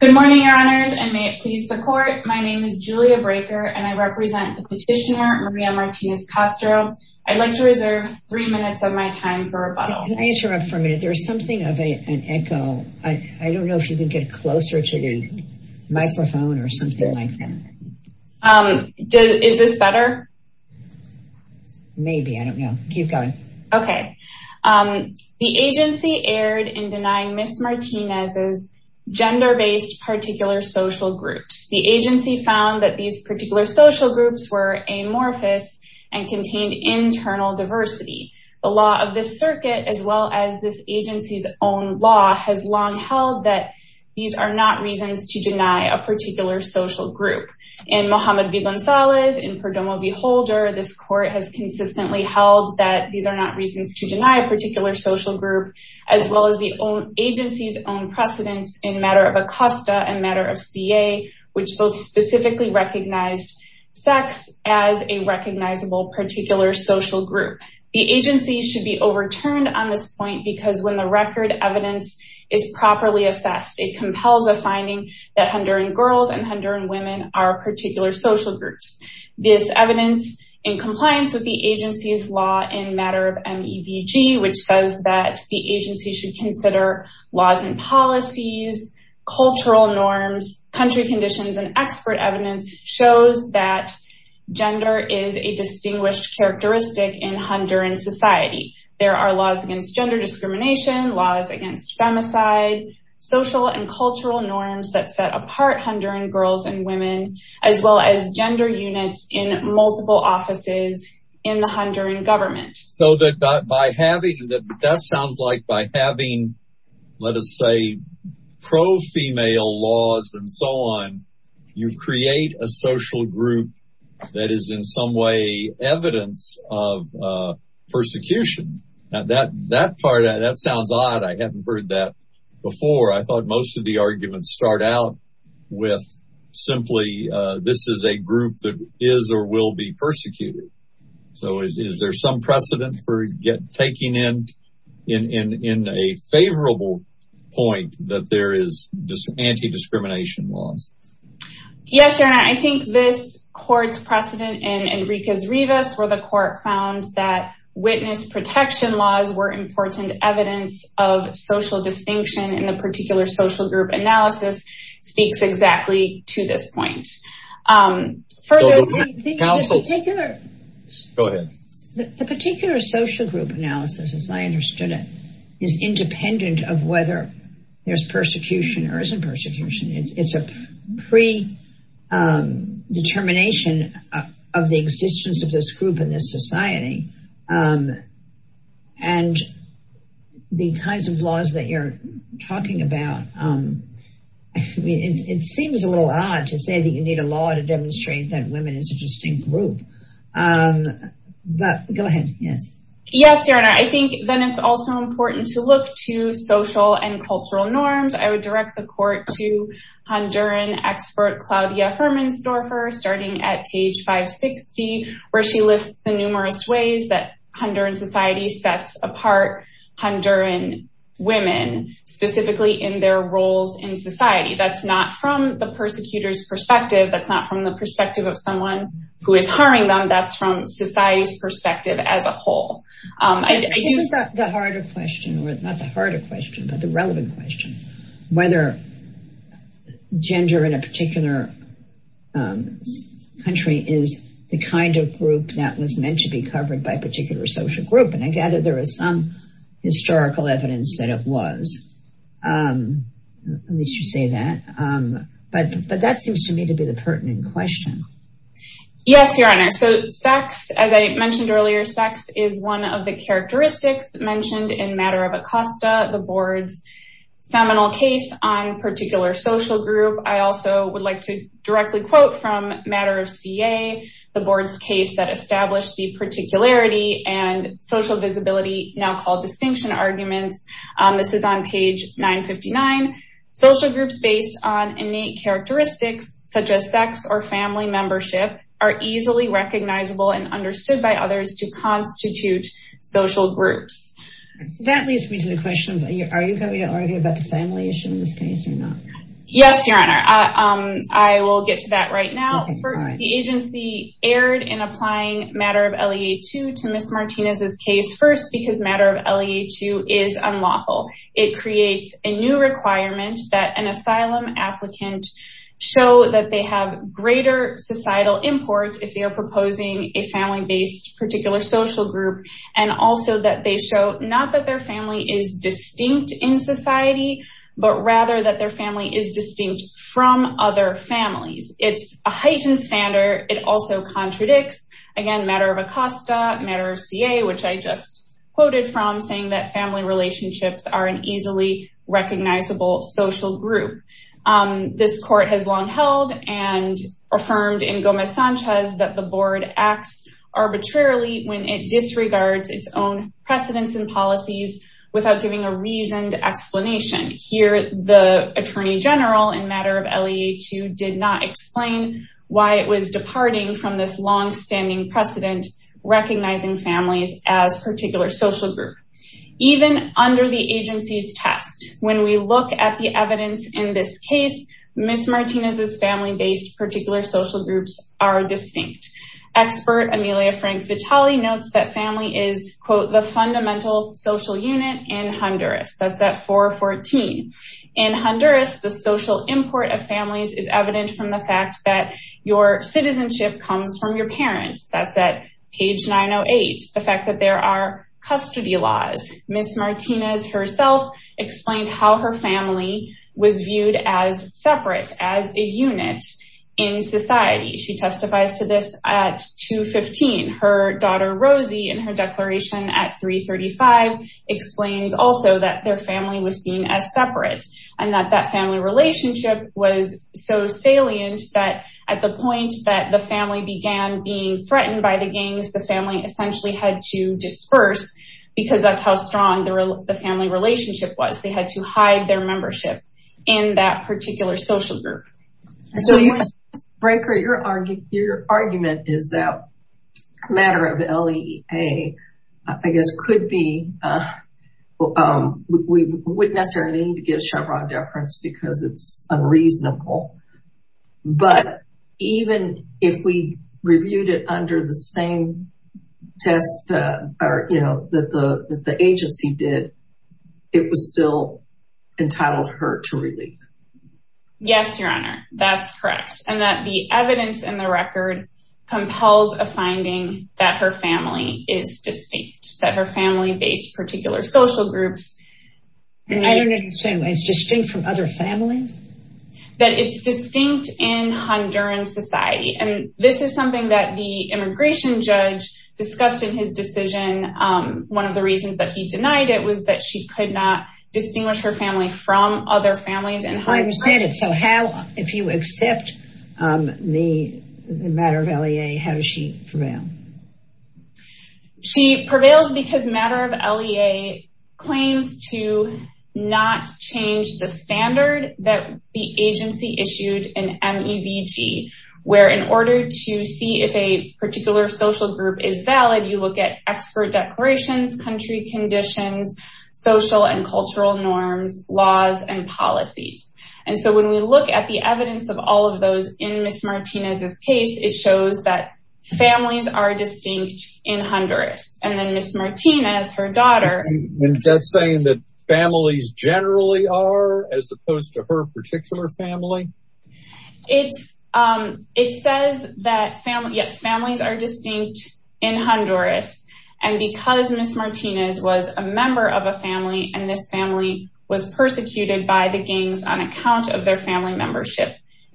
Good morning your honors and may it please the court my name is Julia Breaker and I represent the petitioner Maria Martinez Castro. I'd like to reserve three minutes of my time for rebuttal. Can I interrupt for a minute there's something of an echo I don't know if you can get closer to the microphone or something like that. Is this better? Maybe I don't know keep going. Okay the agency erred in denying Miss Martinez's gender-based particular social groups. The agency found that these particular social groups were amorphous and contained internal diversity. The law of this circuit as well as this agency's own law has long held that these are not reasons to deny a particular social group. In Mohammed v. Gonzalez, in Perdomo v. Holder, this court has consistently held that these are not reasons to deny a particular social group as well as the agency's own precedence in matter of ACOSTA and matter of CA which both specifically recognized sex as a recognizable particular social group. The agency should be overturned on this point because when the record evidence is properly assessed it compels a finding that Honduran girls and Honduran women are particular social groups. This evidence in compliance with the agency's law in matter of MEVG which says that the agency should consider laws and policies, cultural norms, country conditions, and expert evidence shows that gender is a distinguished characteristic in Honduran society. There are laws against gender discrimination, laws against femicide, social and cultural norms that set apart Honduran girls and women, as well as gender units in multiple offices in the Honduran government. So that by having that that sounds like by having let us say pro-female laws and so on you create a social group that is in some way evidence of persecution. Now that that part that sounds odd. I haven't heard that before. I thought most of the will be persecuted. So is there some precedent for get taking in in in a favorable point that there is just anti-discrimination laws? Yes your honor, I think this court's precedent and Enrique Rivas where the court found that witness protection laws were important evidence of social distinction in the particular social group analysis as I understood it is independent of whether there's persecution or isn't persecution. It's a pre-determination of the existence of this group in this society and the kinds of laws that you're talking about. I mean it seems a little odd to say that you need a law to group. But go ahead. Yes your honor, I think then it's also important to look to social and cultural norms. I would direct the court to Honduran expert Claudia Hermann-Storfer starting at page 560 where she lists the numerous ways that Honduran society sets apart Honduran women specifically in their roles in society. That's not from the persecutors perspective. That's not from the perspective of someone who is hiring them. That's from society's perspective as a whole. I think the harder question or not the harder question but the relevant question whether gender in a particular country is the kind of group that was meant to be covered by a particular social group and I gather there is some historical evidence that it was. At least you say that. But that seems to me to be the pertinent question. Yes your honor. So sex as I mentioned earlier sex is one of the characteristics mentioned in matter of Acosta the board's seminal case on particular social group. I also would like to directly quote from matter of CA the board's case that established the particularity and social visibility now called distinction arguments. This is page 959. Social groups based on innate characteristics such as sex or family membership are easily recognizable and understood by others to constitute social groups. That leads me to the question are you going to argue about the family issue in this case or not? Yes your honor. I will get to that right now. The agency erred in applying matter of LEA 2 to Ms. Martinez's case first because matter of LEA 2 is unlawful. It creates a new requirement that an asylum applicant show that they have greater societal import if they are proposing a family based particular social group and also that they show not that their family is distinct in society but rather that their family is distinct from other families. It's a heightened standard. It also contradicts again matter of CA which I just quoted from saying that family relationships are an easily recognizable social group. This court has long held and affirmed in Gomez Sanchez that the board acts arbitrarily when it disregards its own precedents and policies without giving a reasoned explanation. Here the attorney general in matter of LEA 2 did not explain why it was departing from this standing precedent recognizing families as particular social group. Even under the agency's test when we look at the evidence in this case Ms. Martinez's family based particular social groups are distinct. Expert Amelia Frank Vitale notes that family is quote the fundamental social unit in Honduras. That's at 414. In Honduras the social import of families is evident from the fact that your citizenship comes from your parents. That's at page 908. The fact that there are custody laws. Ms. Martinez herself explained how her family was viewed as separate as a unit in society. She testifies to this at 215. Her daughter Rosie in her declaration at 335 explains also that their family was seen as separate and that that family relationship was so salient that at the point that the family began being threatened by the gangs the family essentially had to disperse because that's how strong the family relationship was. They had to hide their membership in that particular social group. So Ms. Brinker your argument is that matter of LEA I guess could be we wouldn't necessarily need to give Chevron deference because it's if we reviewed it under the same test or you know that the agency did it was still entitled her to relief. Yes your honor that's correct and that the evidence in the record compels a finding that her family is distinct that her family based particular social groups. I don't understand why it's distinct from other families? That it's distinct in Honduran society and this is something that the immigration judge discussed in his decision one of the reasons that he denied it was that she could not distinguish her family from other families. I understand it so how if you accept the matter of LEA how does she prevail? She prevails because matter of LEA claims to not change the standard that the agency issued an MEVG where in order to see if a particular social group is valid you look at expert declarations, country conditions, social and cultural norms, laws and policies and so when we look at the evidence of all of those in Ms. Martinez's case it shows that families are distinct in Honduras and then Ms. Martinez her daughter. Is that saying that families generally are as opposed to her particular family? It says that families are distinct in Honduras and because Ms. Martinez was a member of a family and this family was persecuted by the gangs on account of their family membership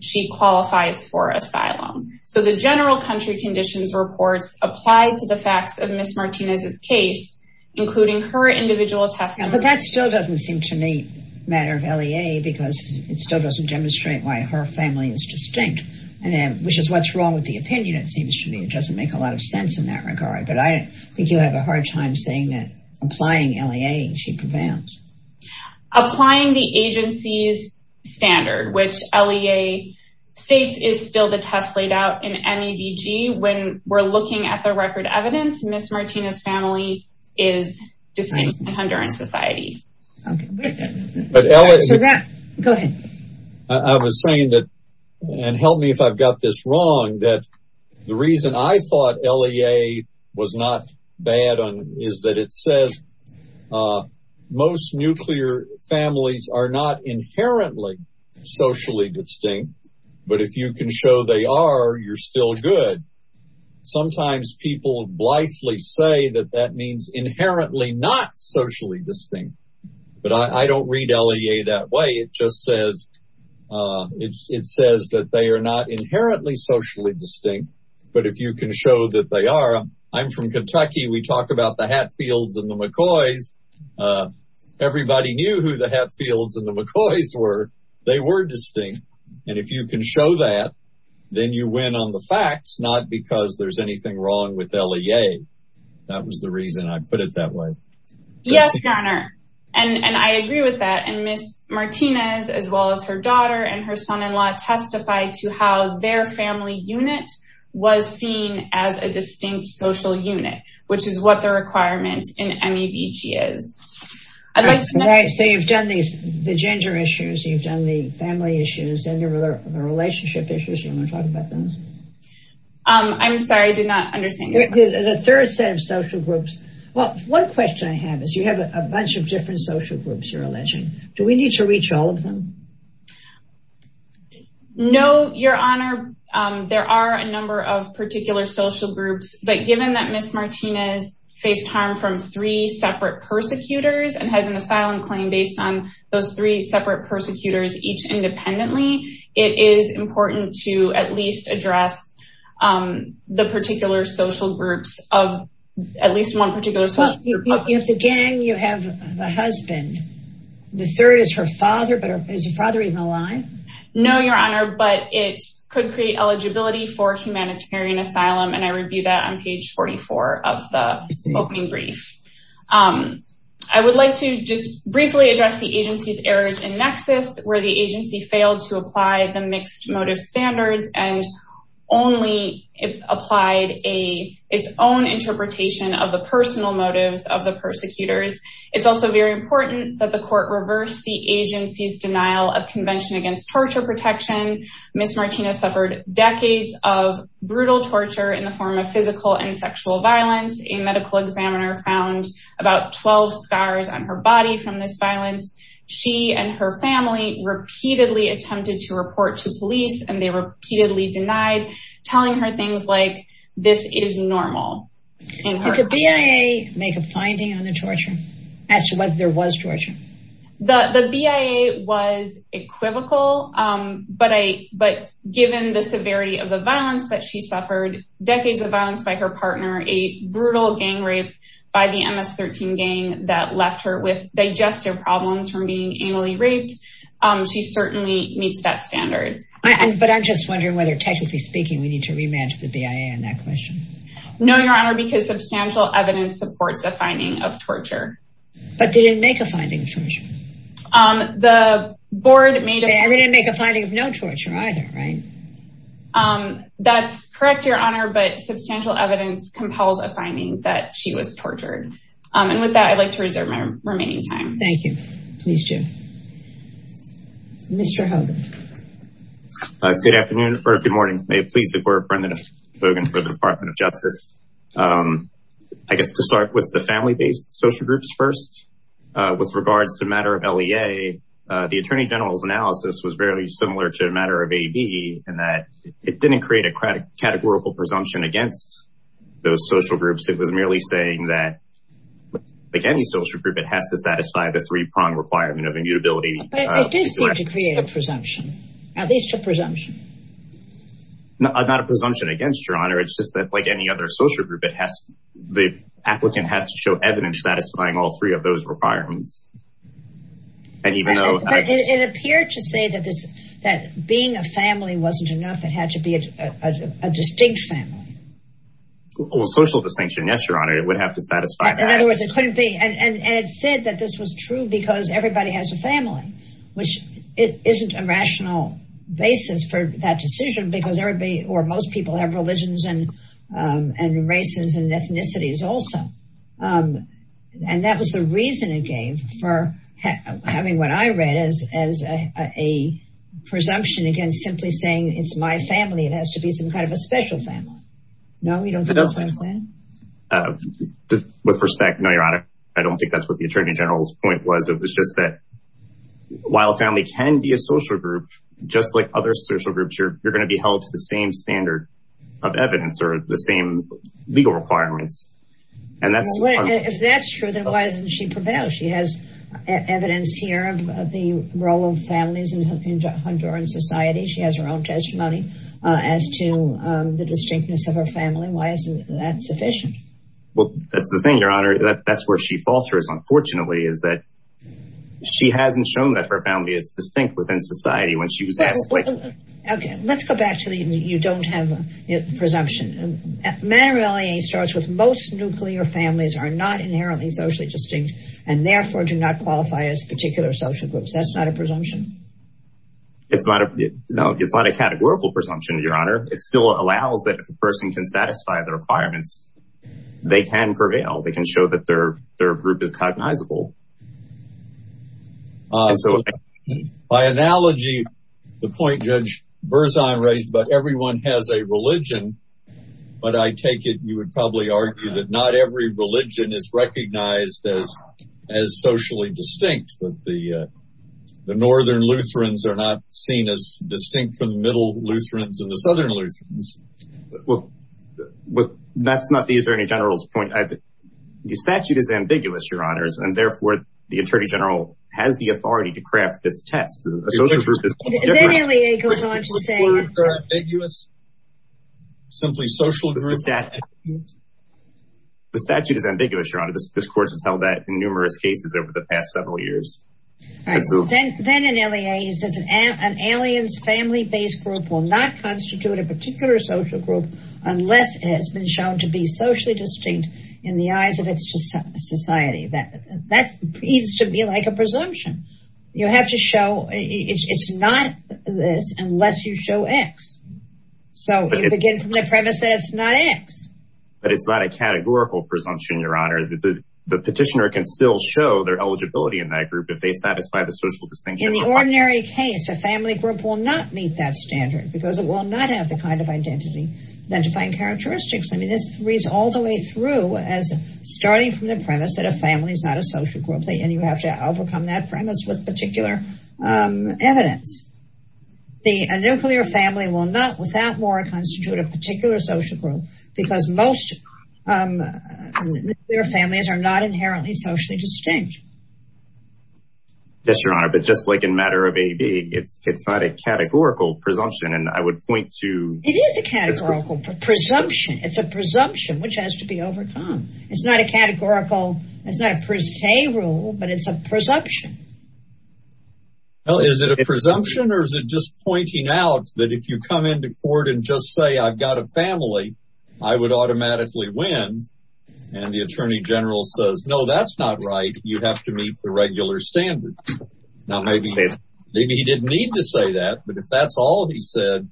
she qualifies for asylum. So the general country conditions reports apply to the facts of Ms. Martinez's case including her individual testimony. But that still doesn't seem to me matter of LEA because it still doesn't demonstrate why her family is distinct and then which is what's wrong with the opinion it seems to me it doesn't make a lot of sense in that regard but I think you have a hard time saying that applying LEA she prevails. Applying the agency's standard which LEA states is still the test laid out in MEVG when we're looking at the record evidence Ms. Martinez's family is distinct in Honduran society. I was saying that and help me if I've got this wrong that the reason I thought LEA was not bad on is that it says most nuclear families are not inherently socially distinct but if you can show they are you're still good. Sometimes people blithely say that that means inherently not socially distinct but I don't read LEA that way it just says it says that they are not inherently socially distinct but if you can show that they are I'm from Kentucky we talk about the Hatfields and the McCoys everybody knew who the Hatfields and the McCoys were they were distinct and if you can show that then you win on the facts not because there's anything wrong with LEA that was the reason I put it that way. Yes your honor and and I agree with that and Ms. Martinez as well as her daughter and her son-in-law testified to how their family unit was seen as a distinct social unit which is what the requirement in MEVG is. I'd like to say you've done these the gender issues you've done the family issues and the relationship issues you want to talk about those. I'm sorry I did not understand the third set of social groups well one question I have is you have a bunch of different social groups you're alleging do we need to reach all of them? No your honor there are a number of particular social groups but given that Ms. Martinez faced harm from three separate persecutors and has an asylum claim based on those three separate persecutors each independently it is important to at least address the particular social groups of at least one particular. You have the gang you have the husband the third is her father but is your father even alive? No your honor but it could eligibility for humanitarian asylum and I review that on page 44 of the opening brief. I would like to just briefly address the agency's errors in nexus where the agency failed to apply the mixed motive standards and only applied a its own interpretation of the personal motives of the persecutors. It's also very important that the court reverse the agency's denial of convention against torture protection Ms. Martinez suffered decades of brutal torture in the form of physical and sexual violence a medical examiner found about 12 scars on her body from this violence she and her family repeatedly attempted to report to police and they repeatedly denied telling her things like this is normal. Did the BIA make a finding on the torture as to whether there was torture? The BIA was equivocal but I but given the severity of the violence that she suffered decades of violence by her partner a brutal gang rape by the MS-13 gang that left her with digestive problems from being anally raped she certainly meets that standard. But I'm just wondering whether technically speaking we need to rematch the BIA on that No your honor because substantial evidence supports a finding of torture. But they didn't make a finding of torture. They didn't make a finding of no torture either right? That's correct your honor but substantial evidence compels a finding that she was tortured and with that I'd like to reserve my remaining time. Thank you please Jim. Mr. Hogan. Good afternoon or good morning may it please the court for the department of justice. I guess to start with the family-based social groups first with regards to the matter of LEA the attorney general's analysis was very similar to a matter of AB in that it didn't create a categorical presumption against those social groups. It was merely saying that like any social group it has to satisfy the three-pronged requirement of your honor it's just that like any other social group it has the applicant has to show evidence satisfying all three of those requirements. And even though it appeared to say that this that being a family wasn't enough it had to be a distinct family. Well social distinction yes your honor it would have to satisfy. In other words it couldn't be and and it said that this was true because everybody has a family which it isn't a rational basis for that decision because or most people have religions and and races and ethnicities also. And that was the reason it gave for having what I read as a presumption against simply saying it's my family it has to be some kind of a special family. No you don't think that's what I'm saying? With respect no your honor I don't think that's what the attorney general's point was it was just that while family can be a same standard of evidence or the same legal requirements and that's if that's true then why doesn't she prevail she has evidence here of the role of families in Honduran society she has her own testimony as to the distinctness of her family why isn't that sufficient? Well that's the thing your honor that's where she falters unfortunately is that she hasn't shown that her family is within society when she was asked. Okay let's go back to the you don't have a presumption matter of fact starts with most nuclear families are not inherently socially distinct and therefore do not qualify as particular social groups that's not a presumption. It's not a no it's not a categorical presumption your honor it still allows that if a person can satisfy the requirements they can prevail they can show that their their group is cognizable. So by analogy the point Judge Berzon raised but everyone has a religion but I take it you would probably argue that not every religion is recognized as as socially distinct that the the northern Lutherans are not seen as distinct from the middle Lutherans and the southern Lutherans. Well that's not the attorney general's point I think the statute is ambiguous your honors and therefore the attorney general has the authority to craft this test. The statute is ambiguous your honor this court has held that in numerous cases over the past several years. Then in LEA he says an alien's family based group will not constitute a particular social group unless it has been shown to be socially distinct in the eyes of its society that that needs to be like a presumption you have to show it's not this unless you show x. So you begin from the premise that it's not x. But it's not a categorical presumption your honor the the petitioner can still show their eligibility in that group if they satisfy the social distinction. In the ordinary case a family group will not meet that standard because it will not have the kind of identity identifying characteristics I mean this reads all the way as starting from the premise that a family is not a social group and you have to overcome that premise with particular evidence. The nuclear family will not without more constitute a particular social group because most their families are not inherently socially distinct. Yes your honor but just like in matter of AB it's it's not a categorical presumption and I it's not a categorical it's not a per se rule but it's a presumption. Well is it a presumption or is it just pointing out that if you come into court and just say I've got a family I would automatically win and the attorney general says no that's not right you have to meet the regular standard. Now maybe maybe he didn't need to say that but if that's all he of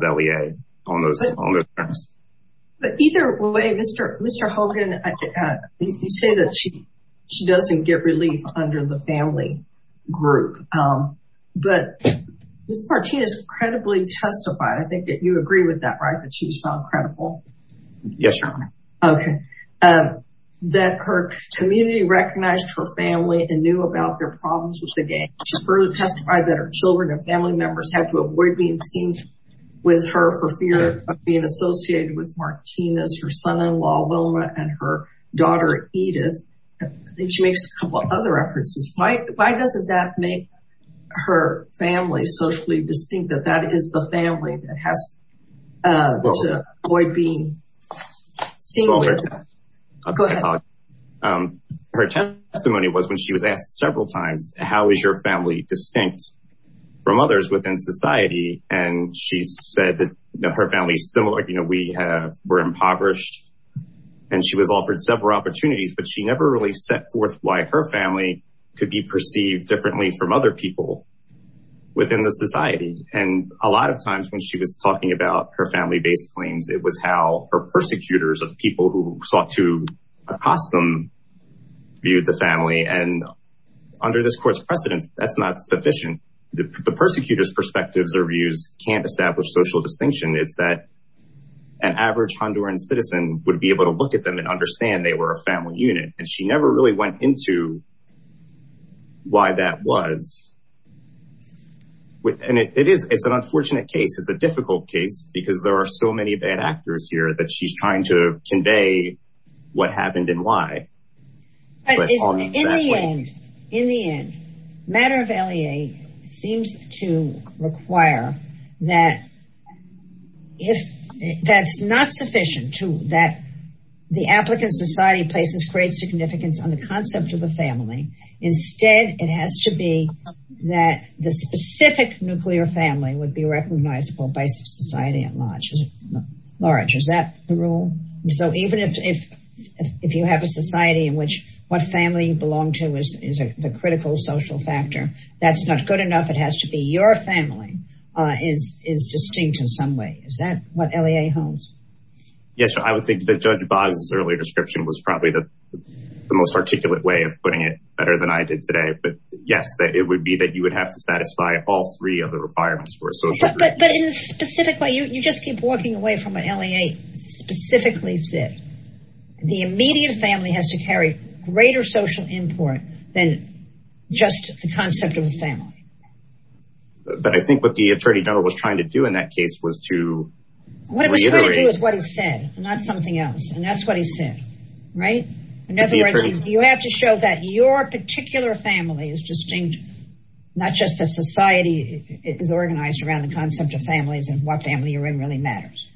LEA on those on those terms. But either way Mr. Hogan you say that she she doesn't get relief under the family group but Ms. Martinez credibly testified I think that you agree with that right that she was found credible. Yes your honor. Okay that her community recognized her family and knew about their problems with the game. She further testified that her children and family members had to avoid being seen with her for fear of being associated with Martinez her son-in-law Wilma and her daughter Edith. I think she makes a couple other references. Why why doesn't that make her family socially distinct that that is the family that has to avoid being seen with. Her testimony was when she was asked several times how is your family distinct from others within society and she said that her family is similar you know we have we're impoverished and she was offered several opportunities but she never really set forth why her family could be perceived differently from other people within the society and a lot of times when she was talking about her family-based claims it was how her persecutors of people who sought to perspectives or views can't establish social distinction it's that an average Honduran citizen would be able to look at them and understand they were a family unit and she never really went into why that was with and it is it's an unfortunate case it's a difficult case because there are so many bad actors here that she's trying to convey what happened and why. But in the end matter of LEA seems to require that if that's not sufficient to that the applicant society places great significance on the concept of the family instead it has to be that the specific nuclear family would be recognizable by society at large. Is that the rule? So even if if you have a society in which what family you belong to is the critical social factor that's not good enough it has to be your family is distinct in some way is that what LEA holds? Yes I would think that Judge Boggs' earlier description was probably the most articulate way of putting it better than I did today but yes that it would be that you would have to satisfy all three of the requirements for a social group. But in a specific way you just keep walking away from what LEA specifically said the immediate family has to carry greater social import than just the concept of a family. But I think what the attorney general was trying to do in that case was to reiterate. What he was trying to do is what he said not something else and that's what he said right in other words you have to show that your particular family is distinct not just that society is organized around the concept of families and what family you're in really matters.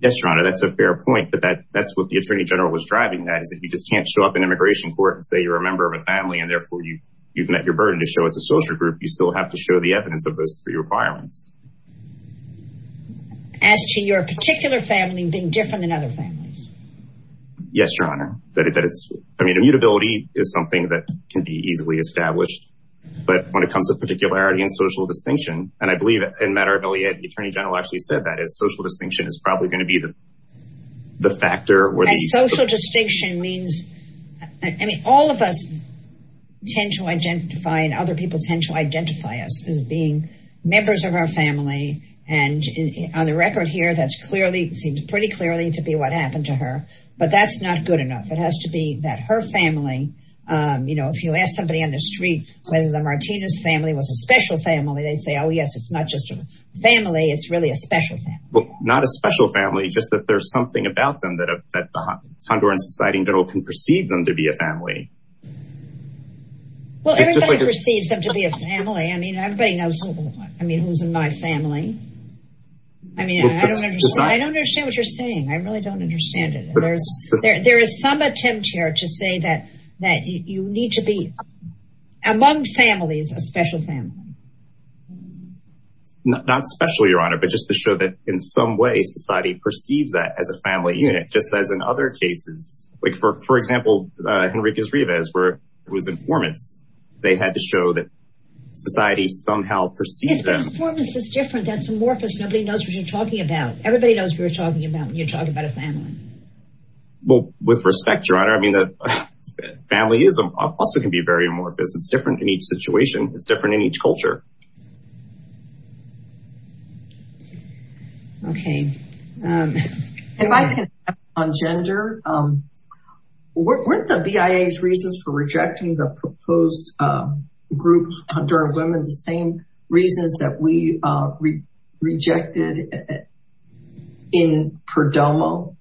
Yes your honor that's a fair point but that that's what the attorney general was driving that is that you just can't show up in immigration court and say you're a member of a family and therefore you you've met your burden to show it's a social group you still have to show the evidence of those three requirements. As to your particular family being different than other families? Yes your honor that it's I mean immutability is something that can be easily established but when it comes to particularity and social distinction and I social distinction is probably going to be the the factor where the social distinction means I mean all of us tend to identify and other people tend to identify us as being members of our family and on the record here that's clearly seems pretty clearly to be what happened to her but that's not good enough it has to be that her family you know if you ask somebody on the street whether the Martinez family was a special family they'd say oh yes it's not just a special family. Well not a special family just that there's something about them that that the Honduran society general can perceive them to be a family. Well everybody perceives them to be a family I mean everybody knows I mean who's in my family I mean I don't understand I don't understand what you're saying I really don't understand it there's there there is some attempt here to say that that you need to be among families a special family. Not special your honor but just to show that in some way society perceives that as a family unit just as in other cases like for for example uh Henriquez Rivas where it was informants they had to show that society somehow perceived them. Informants is different that's amorphous nobody knows what you're talking about everybody knows we're talking about when you're talking about a family. Well with respect your honor I mean that familyism also can be very amorphous it's different in each situation it's different in each culture. Okay um if I can on gender um weren't the BIA's reasons for rejecting the proposed uh group Honduran women the same reasons that we uh rejected in Perdomo?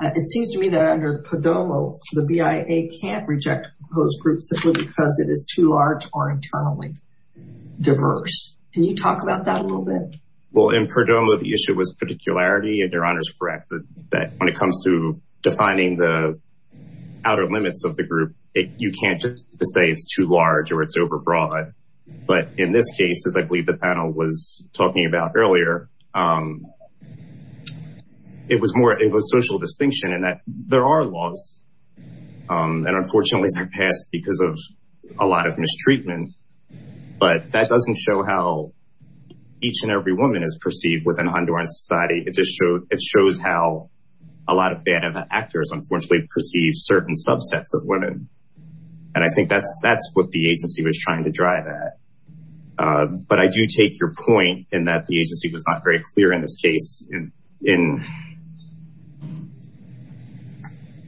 It seems to me that under Perdomo the BIA can't reject those groups simply because it is too large or internally diverse. Can you talk about that a little bit? Well in Perdomo the issue was particularity and your honor is correct that when it comes to defining the outer limits of the group it you can't just say it's too large or it's over broad but in this case as I believe the panel was talking about earlier um it was more it was social distinction and that there are laws um and unfortunately they're passed because of a lot of mistreatment but that doesn't show how each and every woman is perceived within Honduran society it just showed it shows how a lot of bad actors unfortunately perceive certain subsets of women and I think that's that's what the agency was trying to drive at uh but I do take your point in that the agency was not very clear in this case in in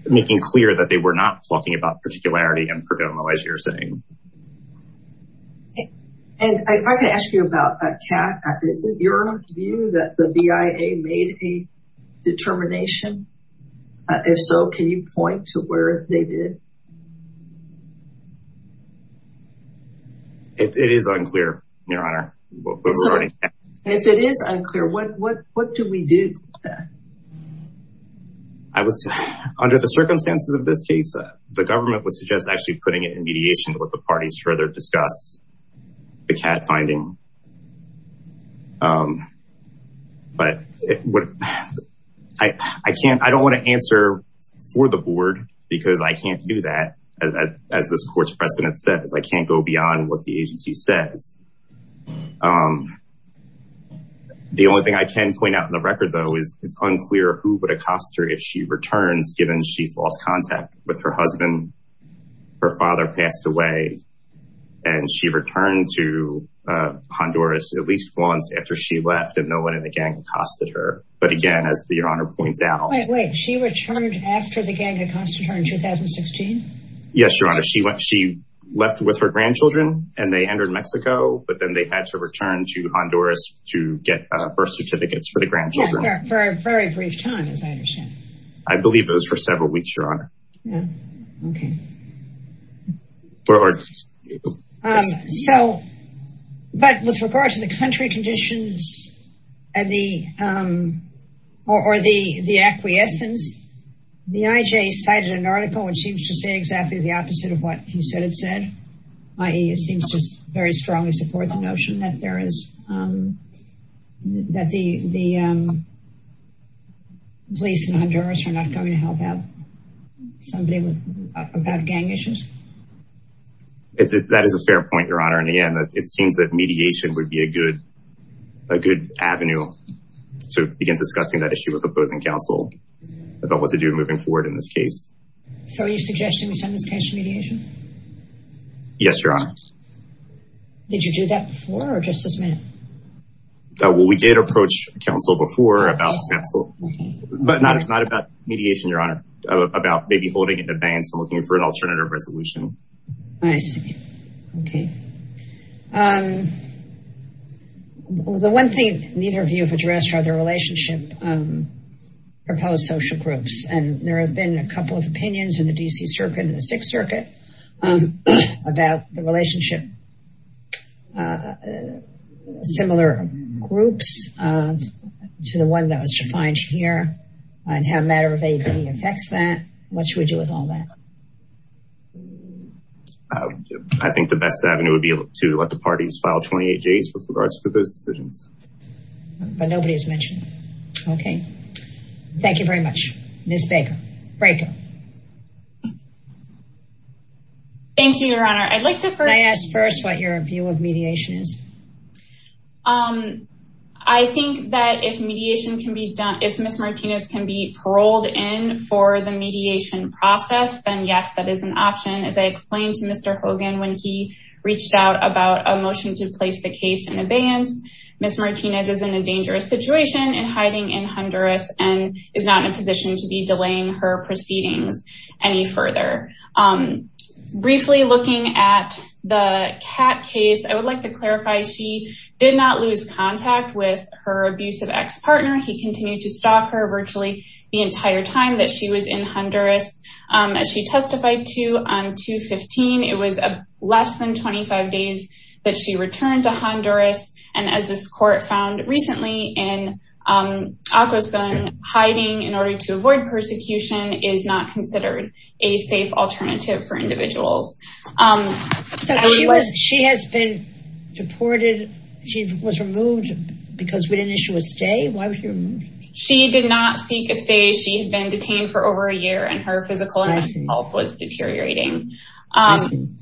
making clear that they were not talking about particularity and Perdomo as you're saying. And if I could ask you about uh Kat is it your view that the BIA made a determination uh if so can you point to where they did? It is unclear your honor. If it is unclear what what what do we do? I would say under the circumstances of this case the government would suggest actually putting it in mediation with the parties to further discuss the Kat finding um but what I I can't I don't want to answer for the board because I can't do that as as this court's precedent says I can't go beyond what the agency says um the only thing I can point out in the record though is it's unclear who would accost her if she returns given she's lost contact with her husband her father passed away and she returned to uh Honduras at least once after she left and no one in the gang accosted her but again as your honor points out she returned after the gang accosted her in 2016? Yes your honor she went she left with her grandchildren and they entered Mexico but then they had to return to Honduras to get a birth certificates for the grandchildren. For a very brief time as I understand. I believe it was for several weeks your honor. Yeah okay. So but with regard to the country conditions and the um or the the acquiescence the IJ cited an article which seems to say exactly the opposite of what he said it said i.e. it seems just very strongly support the notion that there is um that the the um police in Honduras are not going to help out somebody with about gang issues? That is a fair point your honor and again it seems that mediation would be a good a good avenue to begin discussing that issue with opposing counsel about what to do moving forward in this case. So are you suggesting we send this case to mediation? Yes your honor. Did you do that before or just this minute? Well we did approach counsel before about counsel but not it's not about mediation your honor about maybe holding it in advance and looking for an alternative resolution. I see okay um the one thing neither of you have addressed are the relationship um proposed social groups and there have been a couple of opinions in the DC circuit and the sixth circuit um about the relationship uh similar groups um to the one that was defined here and how matter-of-factly affects that what should we do with all that? I think the best avenue would be able to let the parties file 28 days with regards to those Thank you your honor. I'd like to first ask first what your view of mediation is. Um I think that if mediation can be done if Ms. Martinez can be paroled in for the mediation process then yes that is an option as I explained to Mr. Hogan when he reached out about a motion to place the case in abeyance. Ms. Martinez is in a dangerous situation and hiding in Honduras and is not in a position to be delaying her proceedings any further. Um briefly looking at the cat case I would like to clarify she did not lose contact with her abusive ex-partner he continued to stalk her virtually the entire time that she was in Honduras um as she testified to on 2-15 it was a less than 25 days that she returned to Honduras and as this court found in Akwesasne hiding in order to avoid persecution is not considered a safe alternative for individuals. She has been deported she was removed because we didn't issue a stay why was she removed? She did not seek a stay she had been detained for over a year and her physical and mental health was deteriorating um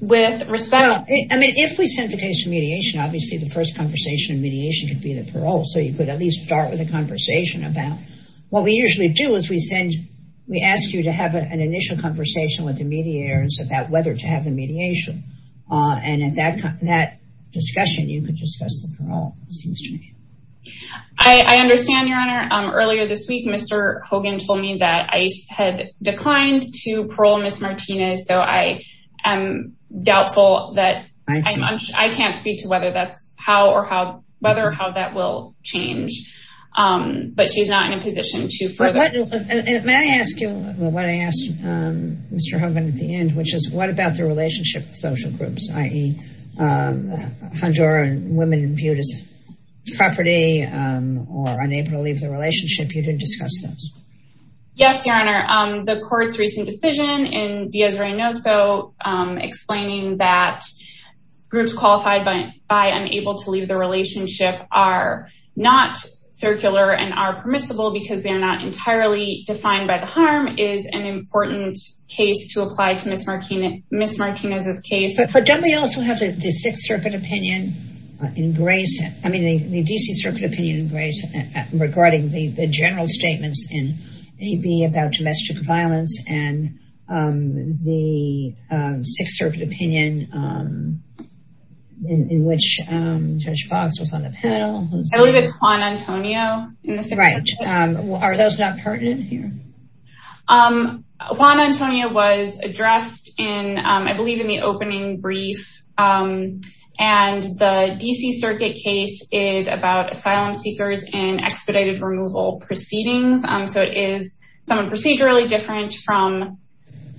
with respect I mean if we sent the case for mediation obviously the first conversation mediation could be the parole so you could at least start with a conversation about what we usually do is we send we ask you to have an initial conversation with the mediators about whether to have the mediation uh and at that that discussion you could discuss the parole. I understand your honor um earlier this week Mr. Hogan told me that ICE had declined to parole so I am doubtful that I can't speak to whether that's how or how whether how that will change um but she's not in a position to further. May I ask you what I asked um Mr. Hogan at the end which is what about the relationship with social groups i.e. um Honduran women viewed as property or unable to leave the relationship you didn't discuss those? Yes your honor um the court's decision in Diaz-Reynoso explaining that groups qualified by by unable to leave the relationship are not circular and are permissible because they are not entirely defined by the harm is an important case to apply to Ms. Martinez's case. But don't we also have the sixth circuit opinion in grace I mean the D.C. circuit opinion in grace regarding the the general statements in AB about domestic violence and um the sixth circuit opinion um in which um Judge Fox was on the panel. I believe it's Juan Antonio. Right um are those not pertinent here? Um Juan Antonio was addressed in um I believe in the opening brief um and the D.C. circuit case is about asylum seekers and expedited removal proceedings um so it is somewhat procedurally different from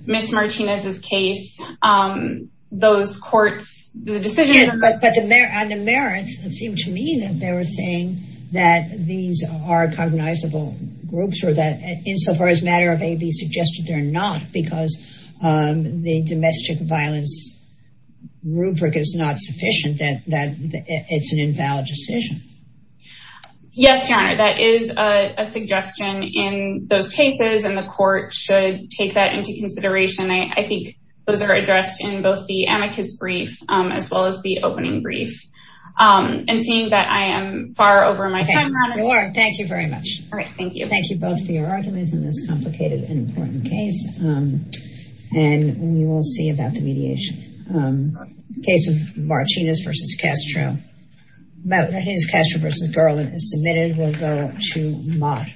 Ms. Martinez's case um those courts the decision. Yes but but the merits seemed to me that they were saying that these are cognizable groups or that insofar as matter of AB suggested they're not because um the domestic violence rubric is not sufficient that that it's an invalid decision. Yes your honor that is a suggestion in those cases and the court should take that into consideration. I think those are addressed in both the amicus brief as well as the opening brief um and seeing that I am far over my time thank you very much all right thank you thank you both for your arguments in this complicated and important case um and we will see about the mediation um case of Martinez versus Castro about Martinez Castro versus Garland is submitted we'll go to Mott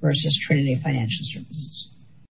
versus Trinity Financial Services.